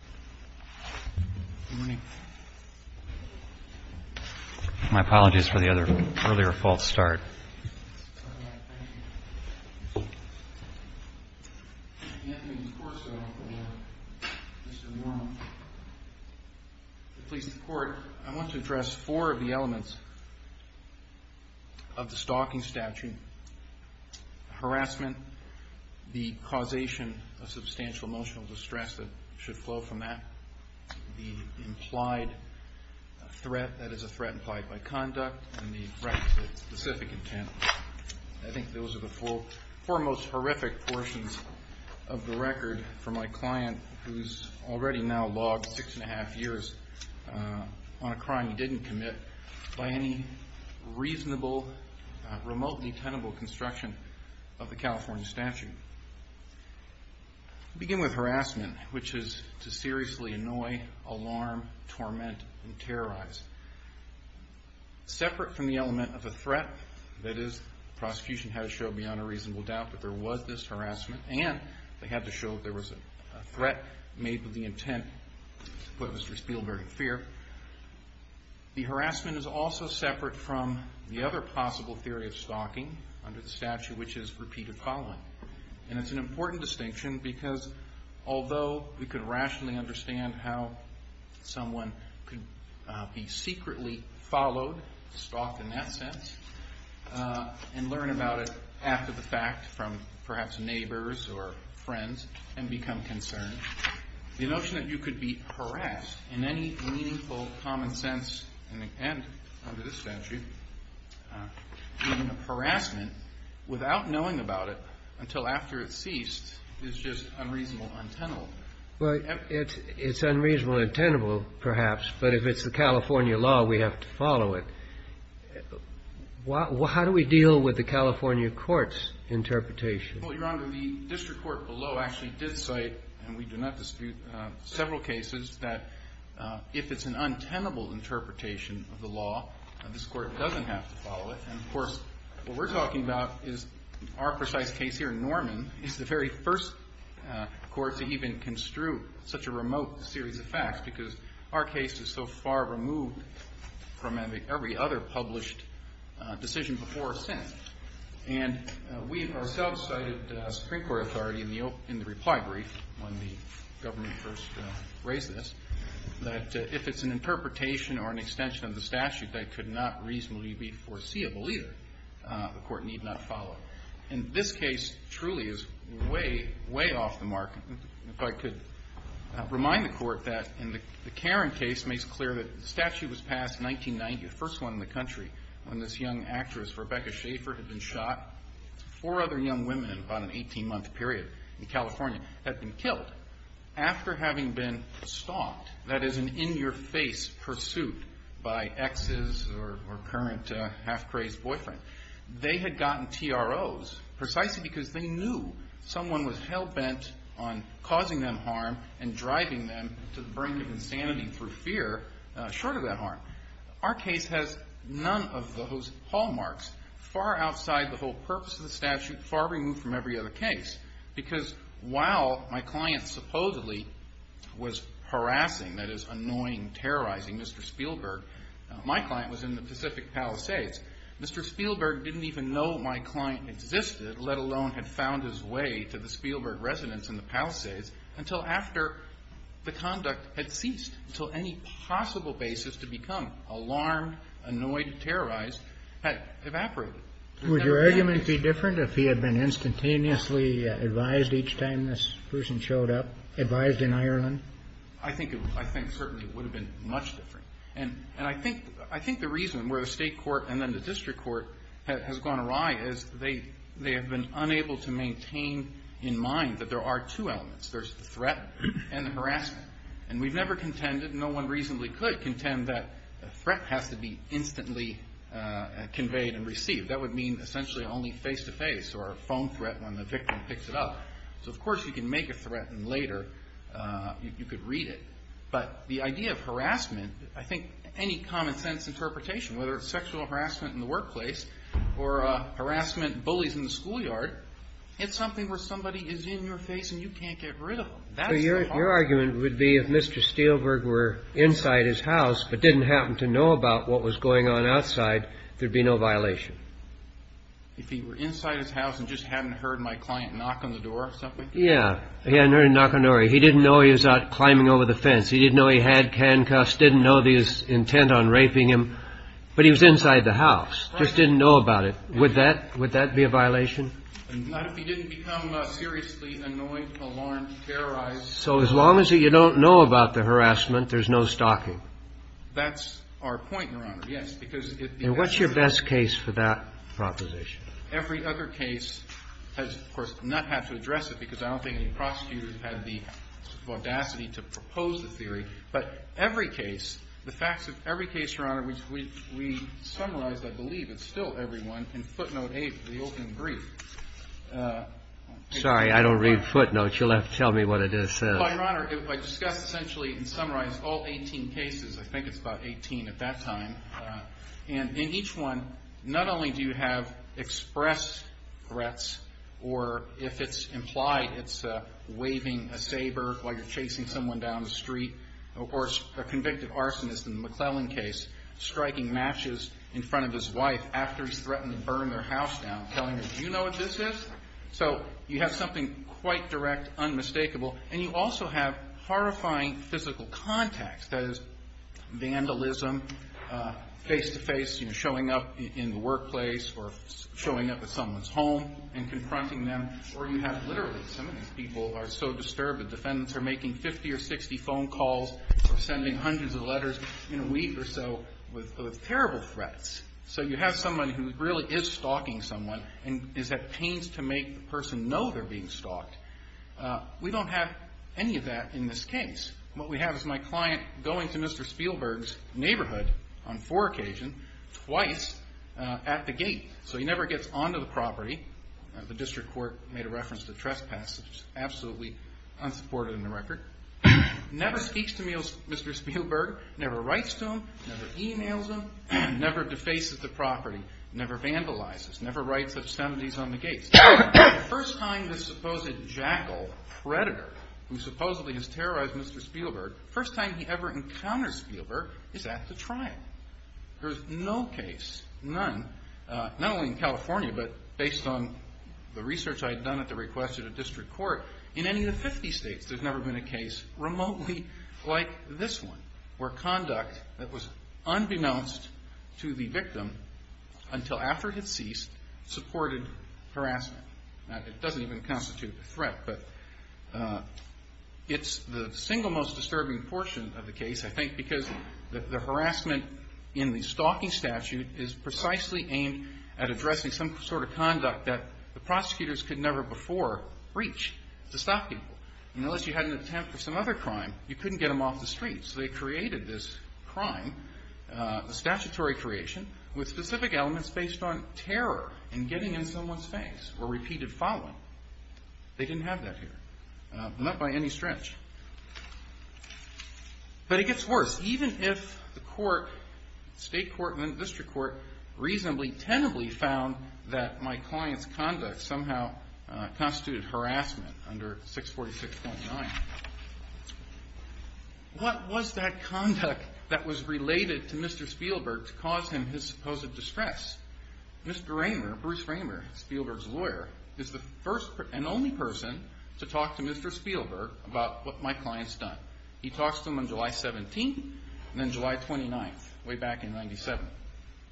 I want to address four of the elements of the stalking statute. Harassment, the causation of substantial emotional distress that should flow from the stalking statute, and the other elements of the stalking statute. The implied threat, that is a threat implied by conduct, and the threat of specific intent. I think those are the four most horrific portions of the record for my client who's already now logged six and a half years on a crime he didn't commit by any reasonable, remotely tenable construction of the California statute. I'll begin with harassment, which is to seriously annoy, alarm, torment, and terrorize. Separate from the element of a threat, that is the prosecution had to show beyond a reasonable doubt that there was this harassment, and they had to show that there was a threat made with the intent to put Mr. Spielberg in fear, the harassment is also separate from the other possible theory of stalking under the statute which is repeated following. And it's an important distinction because although we could rationally understand how someone could be secretly followed, stalked in that sense, and learn about it after the fact from perhaps neighbors or friends, and become concerned. The notion that you could be harassed in any meaningful common sense, and under this statute, harassment without knowing about it until after it ceased is just unreasonable, untenable. It's unreasonable and tenable, perhaps, but if it's the California law we have to follow it. How do we deal with the California court's interpretation? Well, Your Honor, the district court below actually did cite, and we do not dispute, several cases that if it's an untenable interpretation of the law, this court doesn't have to follow it. And of course, what we're talking about is our precise case here, Norman, is the very first court to even construe such a remote series of facts because our case is so far removed from every other published decision before or since. And we ourselves cited Supreme Court authority in the reply brief when the government first raised this, that if it's an interpretation or an extension of the statute that could not reasonably be foreseeable either, the court need not follow it. And this case truly is way, way off the mark. If I could remind the court that the Karen case makes clear that the statute was passed in 1990, the first one in the country, when this young actress, Rebecca Schaefer, had been shot. Four other young women in about an 18-month period in California had been killed after having been stalked, that is an in-your-face pursuit by exes or current half-crazed boyfriend. They had gotten TROs precisely because they knew someone was hell-bent on causing them harm and driving them to the brink of insanity through fear short of that harm. Our case has none of those hallmarks, far outside the whole purpose of the statute, far removed from every other case, because while my client supposedly was harassing, that is annoying, terrorizing Mr. Spielberg, my client was in the Pacific Palisades. Mr. Spielberg didn't even know my client existed, let alone had found his way to the Spielberg residence in the Palisades until after the conduct had ceased, until any possible basis to become alarmed, annoyed, terrorized had evaporated. Would your argument be different if he had been instantaneously advised each time this person showed up, advised in Ireland? I think certainly it would have been much different. And I think the reason where the state court and then the district court has gone awry is they have been unable to maintain in mind that there are two elements. There's the threat and the harassment. And we've never contended, no one reasonably could contend that a threat has to be instantly conveyed and received. That would mean essentially only face-to-face or a phone threat when the victim picks it up. So of course you can make a threat and later you could read it. But the idea of harassment, I think any common sense interpretation, whether it's sexual harassment in the workplace or harassment, bullies in the schoolyard, it's something where somebody is in your face and you can't get rid of them. Your argument would be if Mr. Spielberg were inside his house but didn't happen to know about what was going on outside, there'd be no violation. If he were inside his house and just hadn't heard my client knock on the door or something? Yeah, he hadn't heard him knock on the door. He didn't know he was out climbing over the fence. He didn't know he had handcuffs, didn't know his intent on raping him. But he was inside the house, just didn't know about it. Would that be a violation? Not if he didn't become seriously annoyed, alarmed, terrorized. So as long as you don't know about the harassment, there's no stalking. That's our point, Your Honor, yes. And what's your best case for that proposition? Every other case has, of course, not had to address it because I don't think any prosecutors have the audacity to propose the theory. But every case, the facts of every case, Your Honor, which we summarized, I believe it's still everyone, in footnote 8 of the opening brief. Sorry, I don't read footnotes. You'll have to tell me what it is. Well, Your Honor, I discussed essentially and summarized all 18 cases. I think it's about 18 at that time. And in each one, not only do you have expressed threats or if it's implied it's waving a saber while you're chasing someone down the street, or a convicted arsonist in the McClellan case striking matches in front of his wife after he's threatened to burn their house down, telling her, do you know what this is? So you have something quite direct, unmistakable. And you also have horrifying physical contacts, that is, vandalism, face-to-face, you know, showing up in the workplace or showing up at someone's home and confronting them, or you have literally some of these people are so disturbed the defendants are making 50 or 60 phone calls or sending hundreds of letters in a week or so with terrible threats. So you have someone who really is stalking someone and is at pains to make the person know they're being stalked. We don't have any of that in this case. What we have is my client going to Mr. Spielberg's neighborhood on four occasions, twice, at the gate. So he never gets onto the property. The district court made a reference to trespass, which is absolutely unsupported in the record. Never speaks to Mr. Spielberg, never writes to him, never emails him, never defaces the property, never vandalizes, never writes obscenities on the gates. The first time this supposed jackal, predator, who supposedly has terrorized Mr. Spielberg, the first time he ever encounters Spielberg is at the trial. There's no case, none, not only in California, but based on the research I had done at the request of the district court, in any of the 50 states there's never been a case remotely like this one, where conduct that was unbeknownst to the victim until after it had ceased supported harassment. It doesn't even constitute a threat, but it's the single most disturbing portion of the case, I think, because the harassment in the stalking statute is precisely aimed at addressing some sort of conduct that the prosecutors could never before reach to stop people. Unless you had an attempt for some other crime, you couldn't get them off the streets. They created this crime, a statutory creation, with specific elements based on terror and getting in someone's face or repeated following. They didn't have that here, not by any stretch. But it gets worse. Even if the state court and the district court reasonably, tenably found that my client's conduct somehow constituted harassment under 646.9, what was that conduct that was related to Mr. Spielberg to cause him his supposed distress? Mr. Raymer, Bruce Raymer, Spielberg's lawyer, is the first and only person to talk to Mr. Spielberg about what my client's done. He talks to him on July 17th and then July 29th, way back in 97.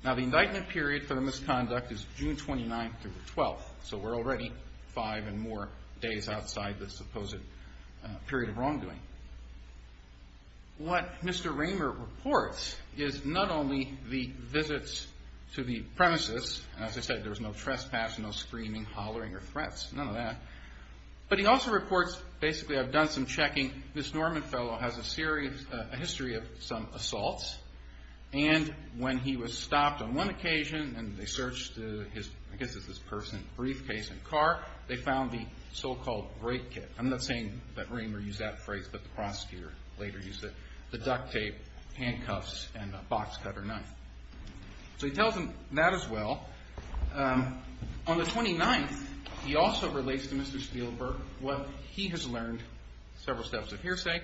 Now, the indictment period for the misconduct is June 29th through the 12th, so we're already five and more days outside the supposed period of wrongdoing. What Mr. Raymer reports is not only the visits to the premises. As I said, there was no trespass, no screaming, hollering, or threats, none of that. But he also reports, basically, I've done some checking. This Norman fellow has a history of some assaults, and when he was stopped on one occasion and they searched his person's briefcase and car, they found the so-called break kit. I'm not saying that Raymer used that phrase, but the prosecutor later used it, the duct tape, handcuffs, and a box cutter knife. So he tells him that as well. On the 29th, he also relates to Mr. Spielberg what he has learned, several steps of hearsay,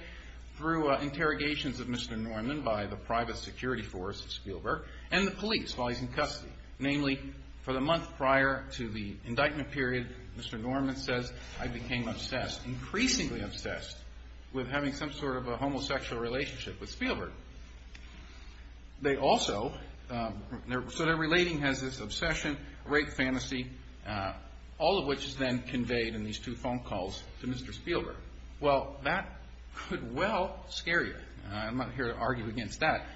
through interrogations of Mr. Norman by the private security force at Spielberg and the police while he's in custody. Namely, for the month prior to the indictment period, Mr. Norman says, I became obsessed, increasingly obsessed, with having some sort of a homosexual relationship with Spielberg. They also, so their relating has this obsession, rape fantasy, all of which is then conveyed in these two phone calls to Mr. Spielberg. Well, that could well scare you. I'm not here to argue against that.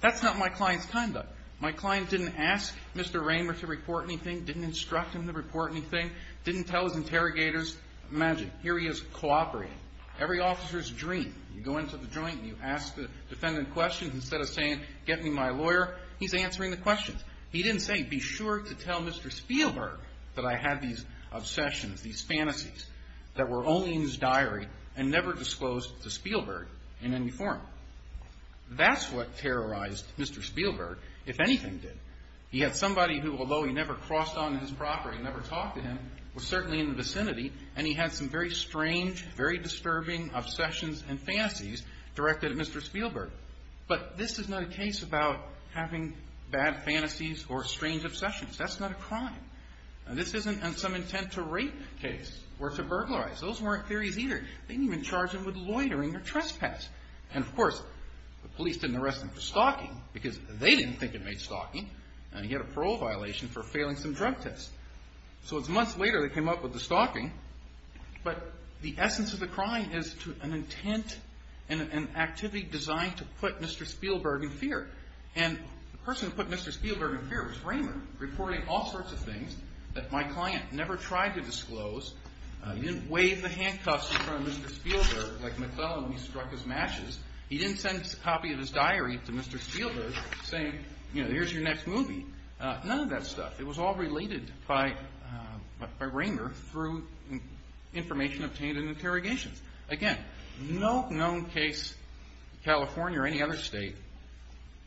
That's not my client's conduct. My client didn't ask Mr. Raymer to report anything, didn't instruct him to report anything, didn't tell his interrogators. Imagine, here he is cooperating. Every officer's dream, you go into the joint and you ask the defendant questions instead of saying, get me my lawyer, he's answering the questions. He didn't say, be sure to tell Mr. Spielberg that I had these obsessions, these fantasies, that were only in his diary and never disclosed to Spielberg in any form. That's what terrorized Mr. Spielberg, if anything did. He had somebody who, although he never crossed on his property, never talked to him, was certainly in the vicinity, and he had some very strange, very disturbing obsessions and fantasies directed at Mr. Spielberg. But this is not a case about having bad fantasies or strange obsessions. That's not a crime. This isn't some intent to rape case or to burglarize. Those weren't theories either. They didn't even charge him with loitering or trespass. And, of course, the police didn't arrest him for stalking because they didn't think it made stalking, and he had a parole violation for failing some drug tests. So it's months later they came up with the stalking. But the essence of the crime is an intent and an activity designed to put Mr. Spielberg in fear. And the person who put Mr. Spielberg in fear was Raymer, reporting all sorts of things that my client never tried to disclose. He didn't wave the handcuffs in front of Mr. Spielberg like McClellan when he struck his matches. He didn't send a copy of his diary to Mr. Spielberg saying, you know, here's your next movie. None of that stuff. It was all related by Raymer through information obtained in interrogations. Again, no known case in California or any other state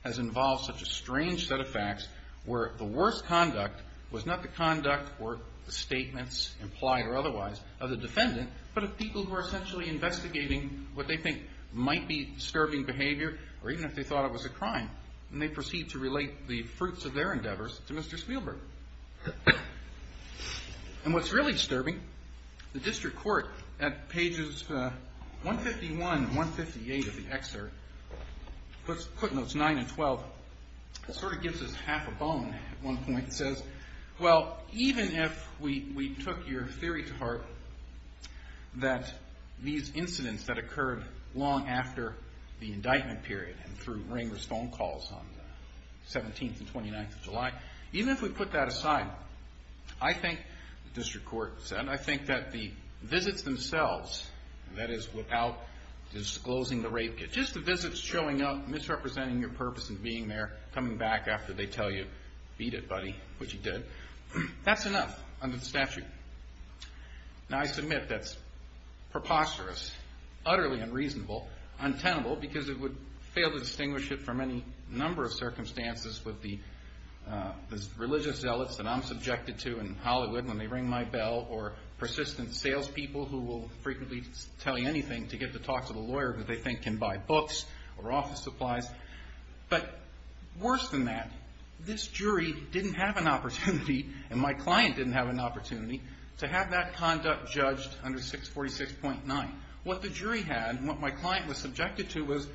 has involved such a strange set of facts where the worst conduct was not the conduct or the statements, implied or otherwise, of the defendant, but of people who are essentially investigating what they think might be disturbing behavior or even if they thought it was a crime. And they proceed to relate the fruits of their endeavors to Mr. Spielberg. And what's really disturbing, the district court at pages 151 and 158 of the excerpt, footnotes 9 and 12, sort of gives us half a bone at one point. It says, well, even if we took your theory to heart that these incidents that occurred long after the indictment period and through Raymer's phone calls on the 17th and 29th of July, even if we put that aside, I think, the district court said, I think that the visits themselves, that is without disclosing the rape case, just the visits showing up, misrepresenting your purpose and being there, coming back after they tell you, beat it, buddy, which you did, that's enough under the statute. Now I submit that's preposterous, utterly unreasonable, untenable, because it would fail to distinguish it from any number of circumstances with the religious zealots that I'm subjected to in Hollywood when they ring my bell or persistent salespeople who will frequently tell you anything to get to talk to the lawyer that they think can buy books or office supplies. But worse than that, this jury didn't have an opportunity and my client didn't have an opportunity to have that conduct judged under 646.9. What the jury had and what my client was subjected to was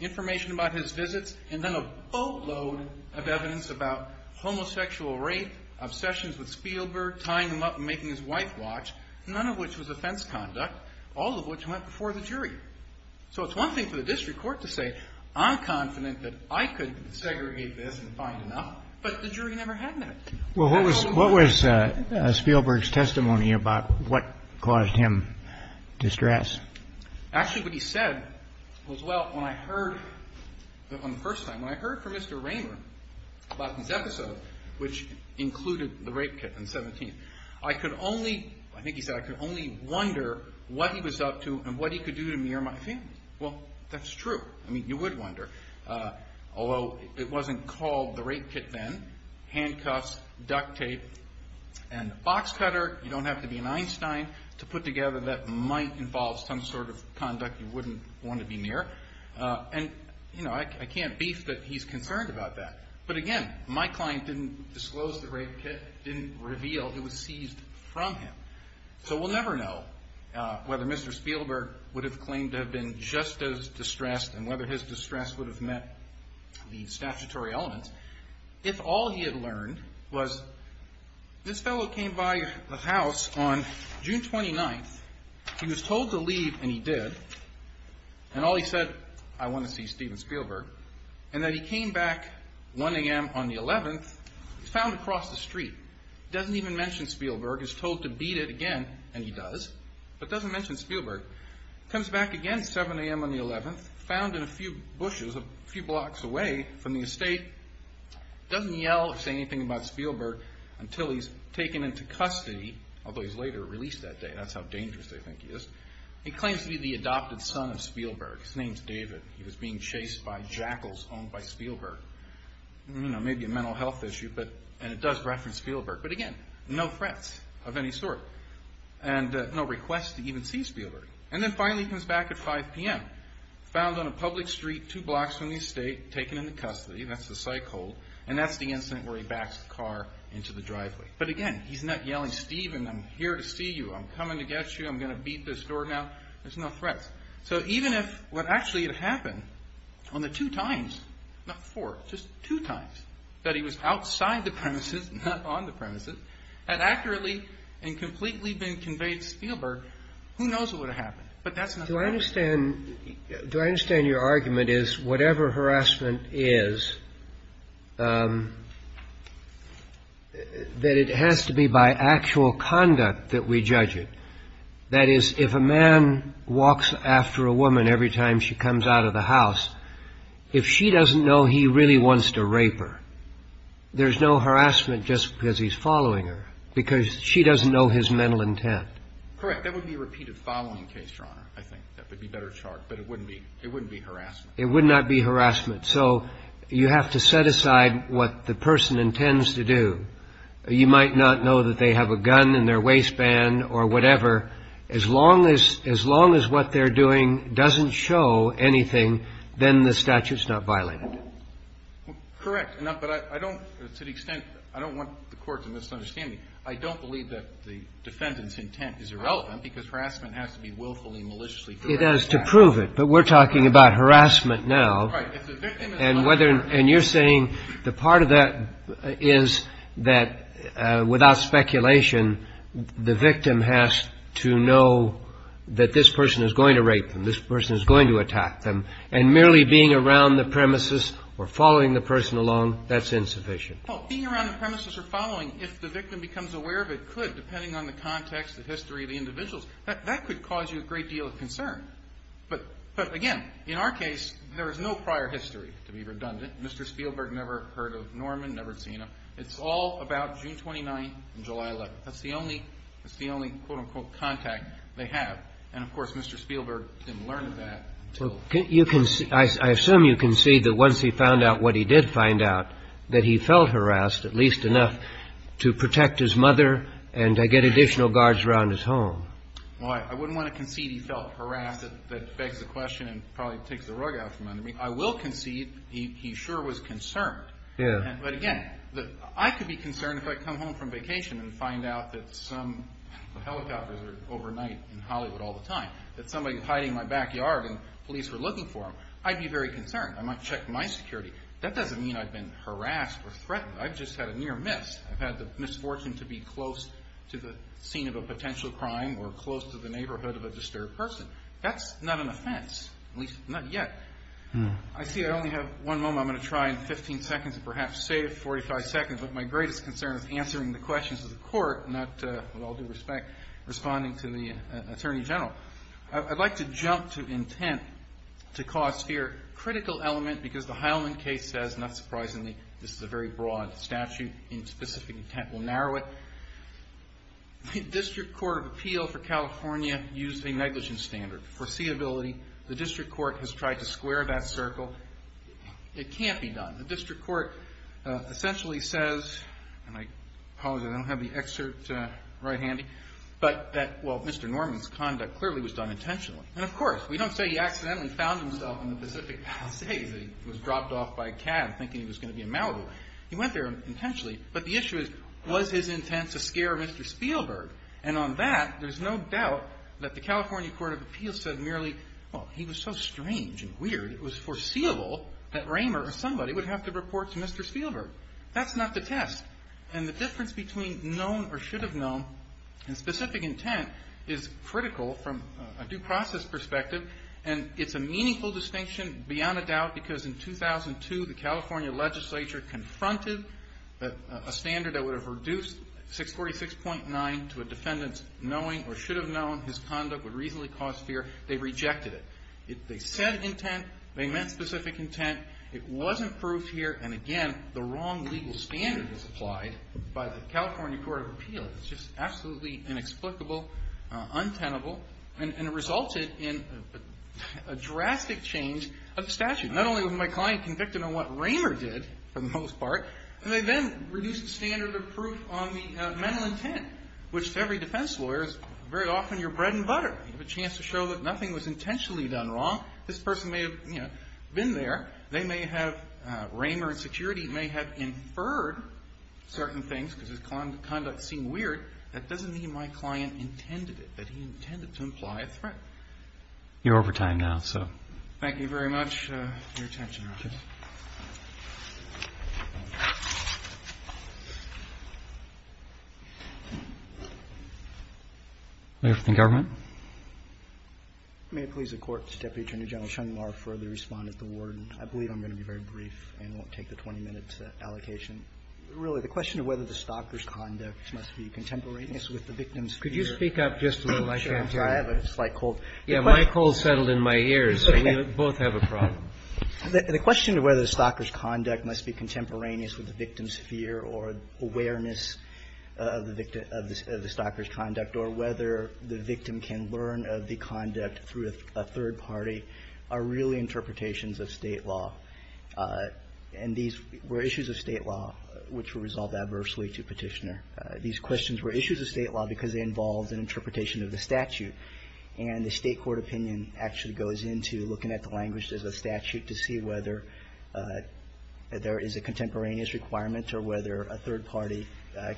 information about his visits and then a boatload of evidence about homosexual rape, obsessions with Spielberg, tying him up and making his wife watch, none of which was offense conduct, all of which went before the jury. So it's one thing for the district court to say, I'm confident that I could segregate this and find enough, but the jury never had that. Well, what was Spielberg's testimony about what caused him distress? Actually, what he said was, well, when I heard, on the first time, when I heard from Mr. Raymer about his episode, which included the rape case on the 17th, I could only, I think he said, I could only wonder what he was up to and what he could do to me or my family. Well, that's true. I mean, you would wonder, although it wasn't called the rape kit then. Handcuffs, duct tape, and a box cutter. You don't have to be an Einstein to put together that might involve some sort of conduct you wouldn't want to be near. And, you know, I can't beef that he's concerned about that. But again, my client didn't disclose the rape kit, didn't reveal it was seized from him. So we'll never know whether Mr. Spielberg would have claimed to have been just as distressed and whether his distress would have met the statutory elements if all he had learned was this fellow came by the house on June 29th. He was told to leave, and he did. And all he said, I want to see Steven Spielberg. And then he came back 1 a.m. on the 11th. He was found across the street. He doesn't even mention Spielberg. He's told to beat it again, and he does, but doesn't mention Spielberg. Comes back again 7 a.m. on the 11th, found in a few bushes a few blocks away from the estate. Doesn't yell or say anything about Spielberg until he's taken into custody, although he's later released that day. That's how dangerous they think he is. He claims to be the adopted son of Spielberg. His name's David. He was being chased by jackals owned by Spielberg. Maybe a mental health issue, and it does reference Spielberg. But again, no threats of any sort, and no request to even see Spielberg. And then finally he comes back at 5 p.m., found on a public street two blocks from the estate, taken into custody. That's the psych hold, and that's the incident where he backs the car into the driveway. But again, he's not yelling, Steven, I'm here to see you. I'm coming to get you. I'm going to beat this door down. There's no threats. So even if what actually had happened on the two times, not four, just two times, that he was outside the premises, not on the premises, had accurately and completely been conveyed to Spielberg, who knows what would have happened. But that's not the point. Do I understand your argument is whatever harassment is, that it has to be by actual conduct that we judge it. That is, if a man walks after a woman every time she comes out of the house, if she doesn't know he really wants to rape her, there's no harassment just because he's following her, because she doesn't know his mental intent. Correct. That would be a repeated following case, Your Honor. I think that would be a better chart, but it wouldn't be harassment. It would not be harassment. So you have to set aside what the person intends to do. You might not know that they have a gun in their waistband or whatever. As long as what they're doing doesn't show anything, then the statute's not violated. Correct. But I don't, to the extent, I don't want the Court to misunderstand me. I don't believe that the defendant's intent is irrelevant, because harassment has to be willfully and maliciously corrected. It has to prove it. But we're talking about harassment now. Right. And you're saying the part of that is that without speculation, the victim has to know that this person is going to rape them, this person is going to attack them, and merely being around the premises or following the person along, that's insufficient. Well, being around the premises or following, if the victim becomes aware of it, could, depending on the context, the history of the individuals, that could cause you a great deal of concern. But, again, in our case, there is no prior history to be redundant. Mr. Spielberg never heard of Norman, never seen him. It's all about June 29th and July 11th. That's the only, quote, unquote, contact they have. And, of course, Mr. Spielberg didn't learn of that. I assume you concede that once he found out what he did find out, that he felt harassed at least enough to protect his mother and to get additional guards around his home. Well, I wouldn't want to concede he felt harassed. That begs the question and probably takes the rug out from under me. I will concede he sure was concerned. Yeah. But, again, I could be concerned if I come home from vacation and find out that some helicopters are overnight in Hollywood all the time, that somebody's hiding in my backyard and police were looking for him. I'd be very concerned. I might check my security. That doesn't mean I've been harassed or threatened. I've just had a near miss. I've had the misfortune to be close to the scene of a potential crime or close to the neighborhood of a disturbed person. That's not an offense, at least not yet. I see I only have one moment. I'm going to try in 15 seconds and perhaps save 45 seconds. But my greatest concern is answering the questions of the Court, not, with all due respect, responding to the Attorney General. I'd like to jump to intent to cause fear. Critical element because the Heilman case says, not surprisingly, this is a very broad statute in specific intent. We'll narrow it. The District Court of Appeal for California used a negligence standard. Foreseeability. The District Court has tried to square that circle. It can't be done. The District Court essentially says, and I apologize, I don't have the excerpt right handy, but that, well, Mr. Norman's conduct clearly was done intentionally. And, of course, we don't say he accidentally found himself in the Pacific Palisades and was dropped off by a cab thinking he was going to be in Malibu. He went there intentionally. But the issue is, was his intent to scare Mr. Spielberg? And on that, there's no doubt that the California Court of Appeal said merely, well, he was so strange and weird it was foreseeable that Raymer or somebody would have to report to Mr. Spielberg. That's not the test. And the difference between known or should have known in specific intent is critical from a due process perspective, and it's a meaningful distinction beyond a doubt because in 2002, the California legislature confronted a standard that would have reduced 646.9 to a defendant's knowing or should have known his conduct would reasonably cause fear. They rejected it. They said intent. They meant specific intent. It wasn't proved here, and, again, the wrong legal standard is applied by the California Court of Appeal. It's just absolutely inexplicable, untenable, and it resulted in a drastic change of statute. Not only was my client convicted on what Raymer did for the most part, but they then reduced the standard of proof on the mental intent, which to every defense lawyer is very often your bread and butter. You have a chance to show that nothing was intentionally done wrong. This person may have, you know, been there. They may have, Raymer and security may have inferred certain things because his conduct seemed weird. That doesn't mean my client intended it, that he intended to imply a threat. You're over time now, so. Thank you very much for your attention, Your Honor. Okay. Mayor for the government. May it please the Court, Deputy Attorney General Chung-Mar, further respond at the word. I believe I'm going to be very brief and won't take the 20-minute allocation. Really, the question of whether the stalker's conduct must be contemporaneous with the victim's fear. Could you speak up just a little? I can't hear you. I have a slight cold. Yeah, my cold settled in my ears, so we both have a problem. The question of whether the stalker's conduct must be contemporaneous with the victim's fear or awareness of the stalker's conduct or whether the victim can learn of the conduct through a third party are really interpretations of State law. And these were issues of State law which were resolved adversely to Petitioner. These questions were issues of State law because they involved an interpretation of the statute. And the State court opinion actually goes into looking at the language of the statute to see whether there is a contemporaneous requirement or whether a third party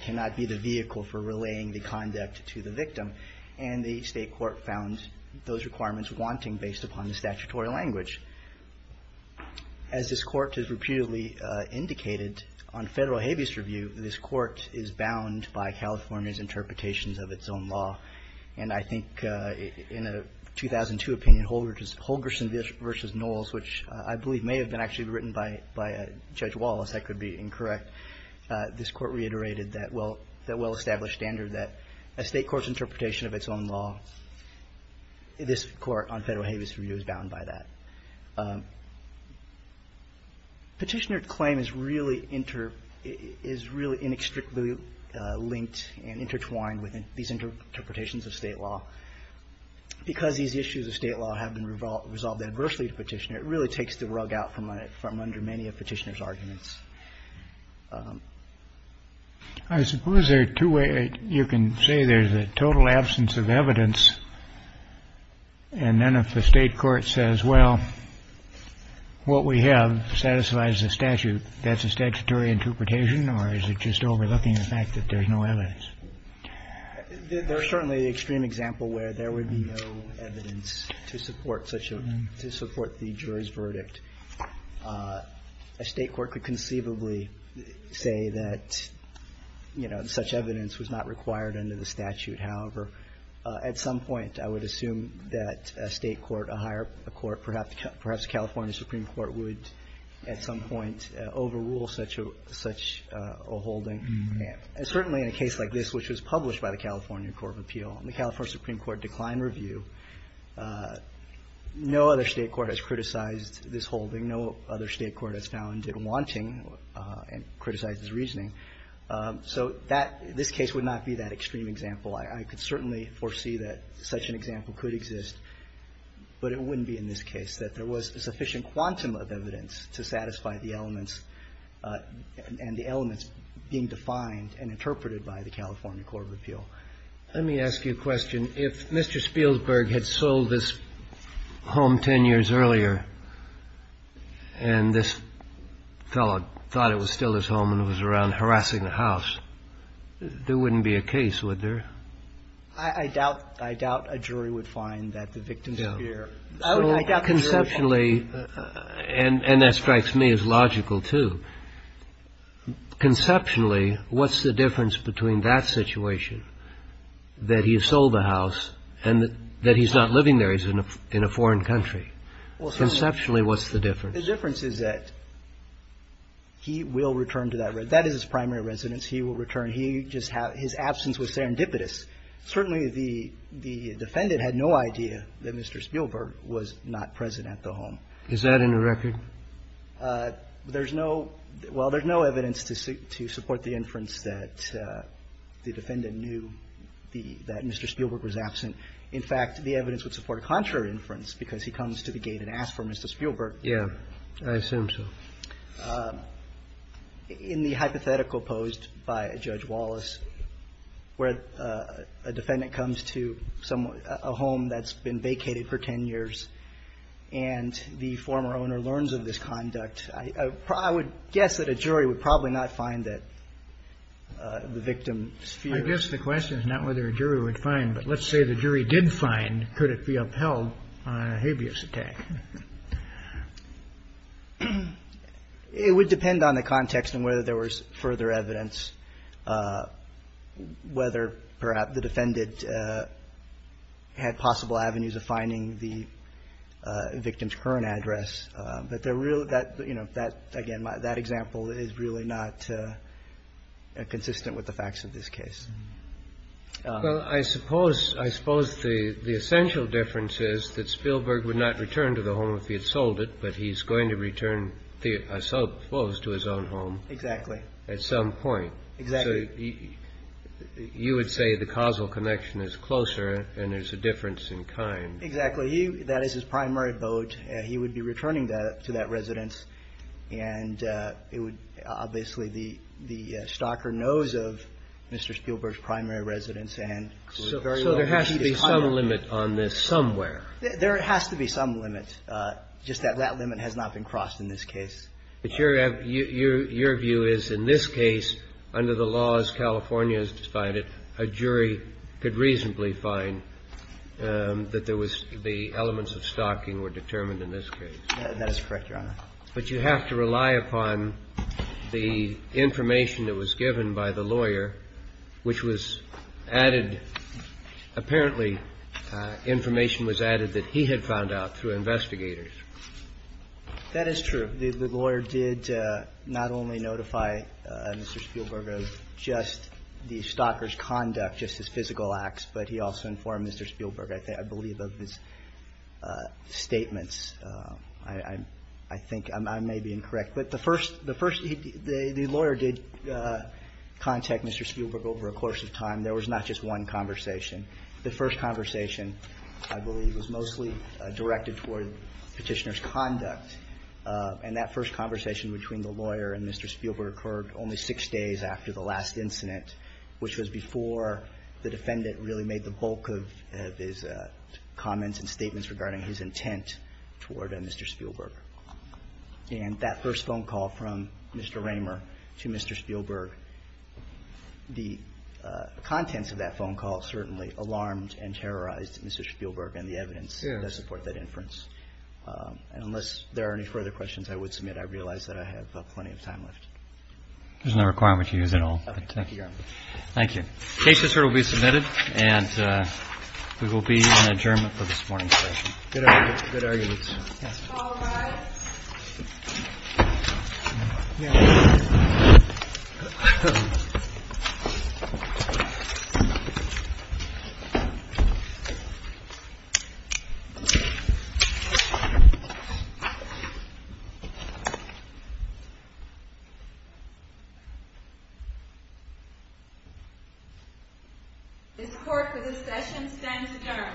cannot be the vehicle for relaying the conduct to the victim. And the State court found those requirements wanting based upon the statutory language. As this court has repeatedly indicated on Federal habeas review, this court is bound by California's interpretations of its own law. And I think in a 2002 opinion, Holgerson v. Knowles, which I believe may have been actually written by Judge Wallace, that could be incorrect, this court reiterated that well established standard that a State court's interpretation of its own law, this court on Federal habeas review is bound by that. Petitioner claim is really inextricably linked and intertwined with these interpretations of State law. Because these issues of State law have been resolved adversely to Petitioner, it really takes the rug out from under many of Petitioner's arguments. I suppose there are two ways you can say there's a total absence of evidence. And then if the State court says, well, what we have satisfies the statute, that's a statutory interpretation, or is it just overlooking the fact that there's no evidence? There's certainly an extreme example where there would be no evidence to support such a, to support the juror's verdict. A State court could conceivably say that, you know, such evidence was not required under the statute. However, at some point, I would assume that a State court, a higher court, perhaps a California Supreme Court would at some point overrule such a holding. And certainly in a case like this, which was published by the California Court of Appeal, the California Supreme Court declined review. No other State court has criticized this holding. No other State court has found it wanting and criticized its reasoning. So that, this case would not be that extreme example. I could certainly foresee that such an example could exist. But it wouldn't be in this case, that there was sufficient quantum of evidence to satisfy the elements and the elements being defined and interpreted by the California Court of Appeal. Let me ask you a question. If Mr. Spielberg had sold this home 10 years earlier and this fellow thought it was a crime to steal his home and was around harassing the house, there wouldn't be a case, would there? I doubt a jury would find that the victim's here. I doubt the jury would find that. So conceptually, and that strikes me as logical, too, conceptually, what's the difference between that situation, that he sold the house, and that he's not living there, he's in a foreign country? Conceptually, what's the difference? The difference is that he will return to that residence. That is his primary residence. He will return. He just had his absence was serendipitous. Certainly, the defendant had no idea that Mr. Spielberg was not present at the home. Is that in the record? There's no – well, there's no evidence to support the inference that the defendant knew that Mr. Spielberg was absent. In fact, the evidence would support a contrary inference, because he comes to the gate and asks for Mr. Spielberg. Yeah. I assume so. In the hypothetical posed by Judge Wallace, where a defendant comes to a home that's been vacated for 10 years, and the former owner learns of this conduct, I would guess the question is not whether a jury would find, but let's say the jury did find, could it be upheld on a habeas attack? It would depend on the context and whether there was further evidence, whether perhaps the defendant had possible avenues of finding the victim's current address. But, again, that example is really not consistent with the facts of this case. Well, I suppose the essential difference is that Spielberg would not return to the home if he had sold it, but he's going to return, I suppose, to his own home. Exactly. At some point. Exactly. You would say the causal connection is closer and there's a difference in kind. Exactly. That is his primary vote. He would be returning to that residence, and it would be, obviously, the stalker knows of Mr. Spielberg's primary residence. So there has to be some limit on this somewhere. There has to be some limit, just that that limit has not been crossed in this case. But your view is, in this case, under the laws California has decided, a jury could reasonably find that there was the elements of stalking were determined in this case. That is correct, Your Honor. But you have to rely upon the information that was given by the lawyer, which was added, apparently information was added that he had found out through investigators. That is true. The lawyer did not only notify Mr. Spielberg of just the stalker's conduct, just his request, but he also informed Mr. Spielberg, I believe, of his statements. I think I may be incorrect. But the first, the first, the lawyer did contact Mr. Spielberg over a course of time. There was not just one conversation. The first conversation, I believe, was mostly directed toward Petitioner's conduct. And that first conversation between the lawyer and Mr. Spielberg occurred only six days after the last incident, which was before the defendant really made the bulk of his comments and statements regarding his intent toward Mr. Spielberg. And that first phone call from Mr. Raymer to Mr. Spielberg, the contents of that phone call certainly alarmed and terrorized Mr. Spielberg and the evidence to support that inference. And unless there are any further questions I would submit, I realize that I have plenty of time left. There's no requirement to use it all. Thank you, Your Honor. Thank you. The case is here to be submitted, and we will be in adjournment for this morning's session. Good arguments. Good arguments. Yes. This court, for this session, stands adjourned. Thank you.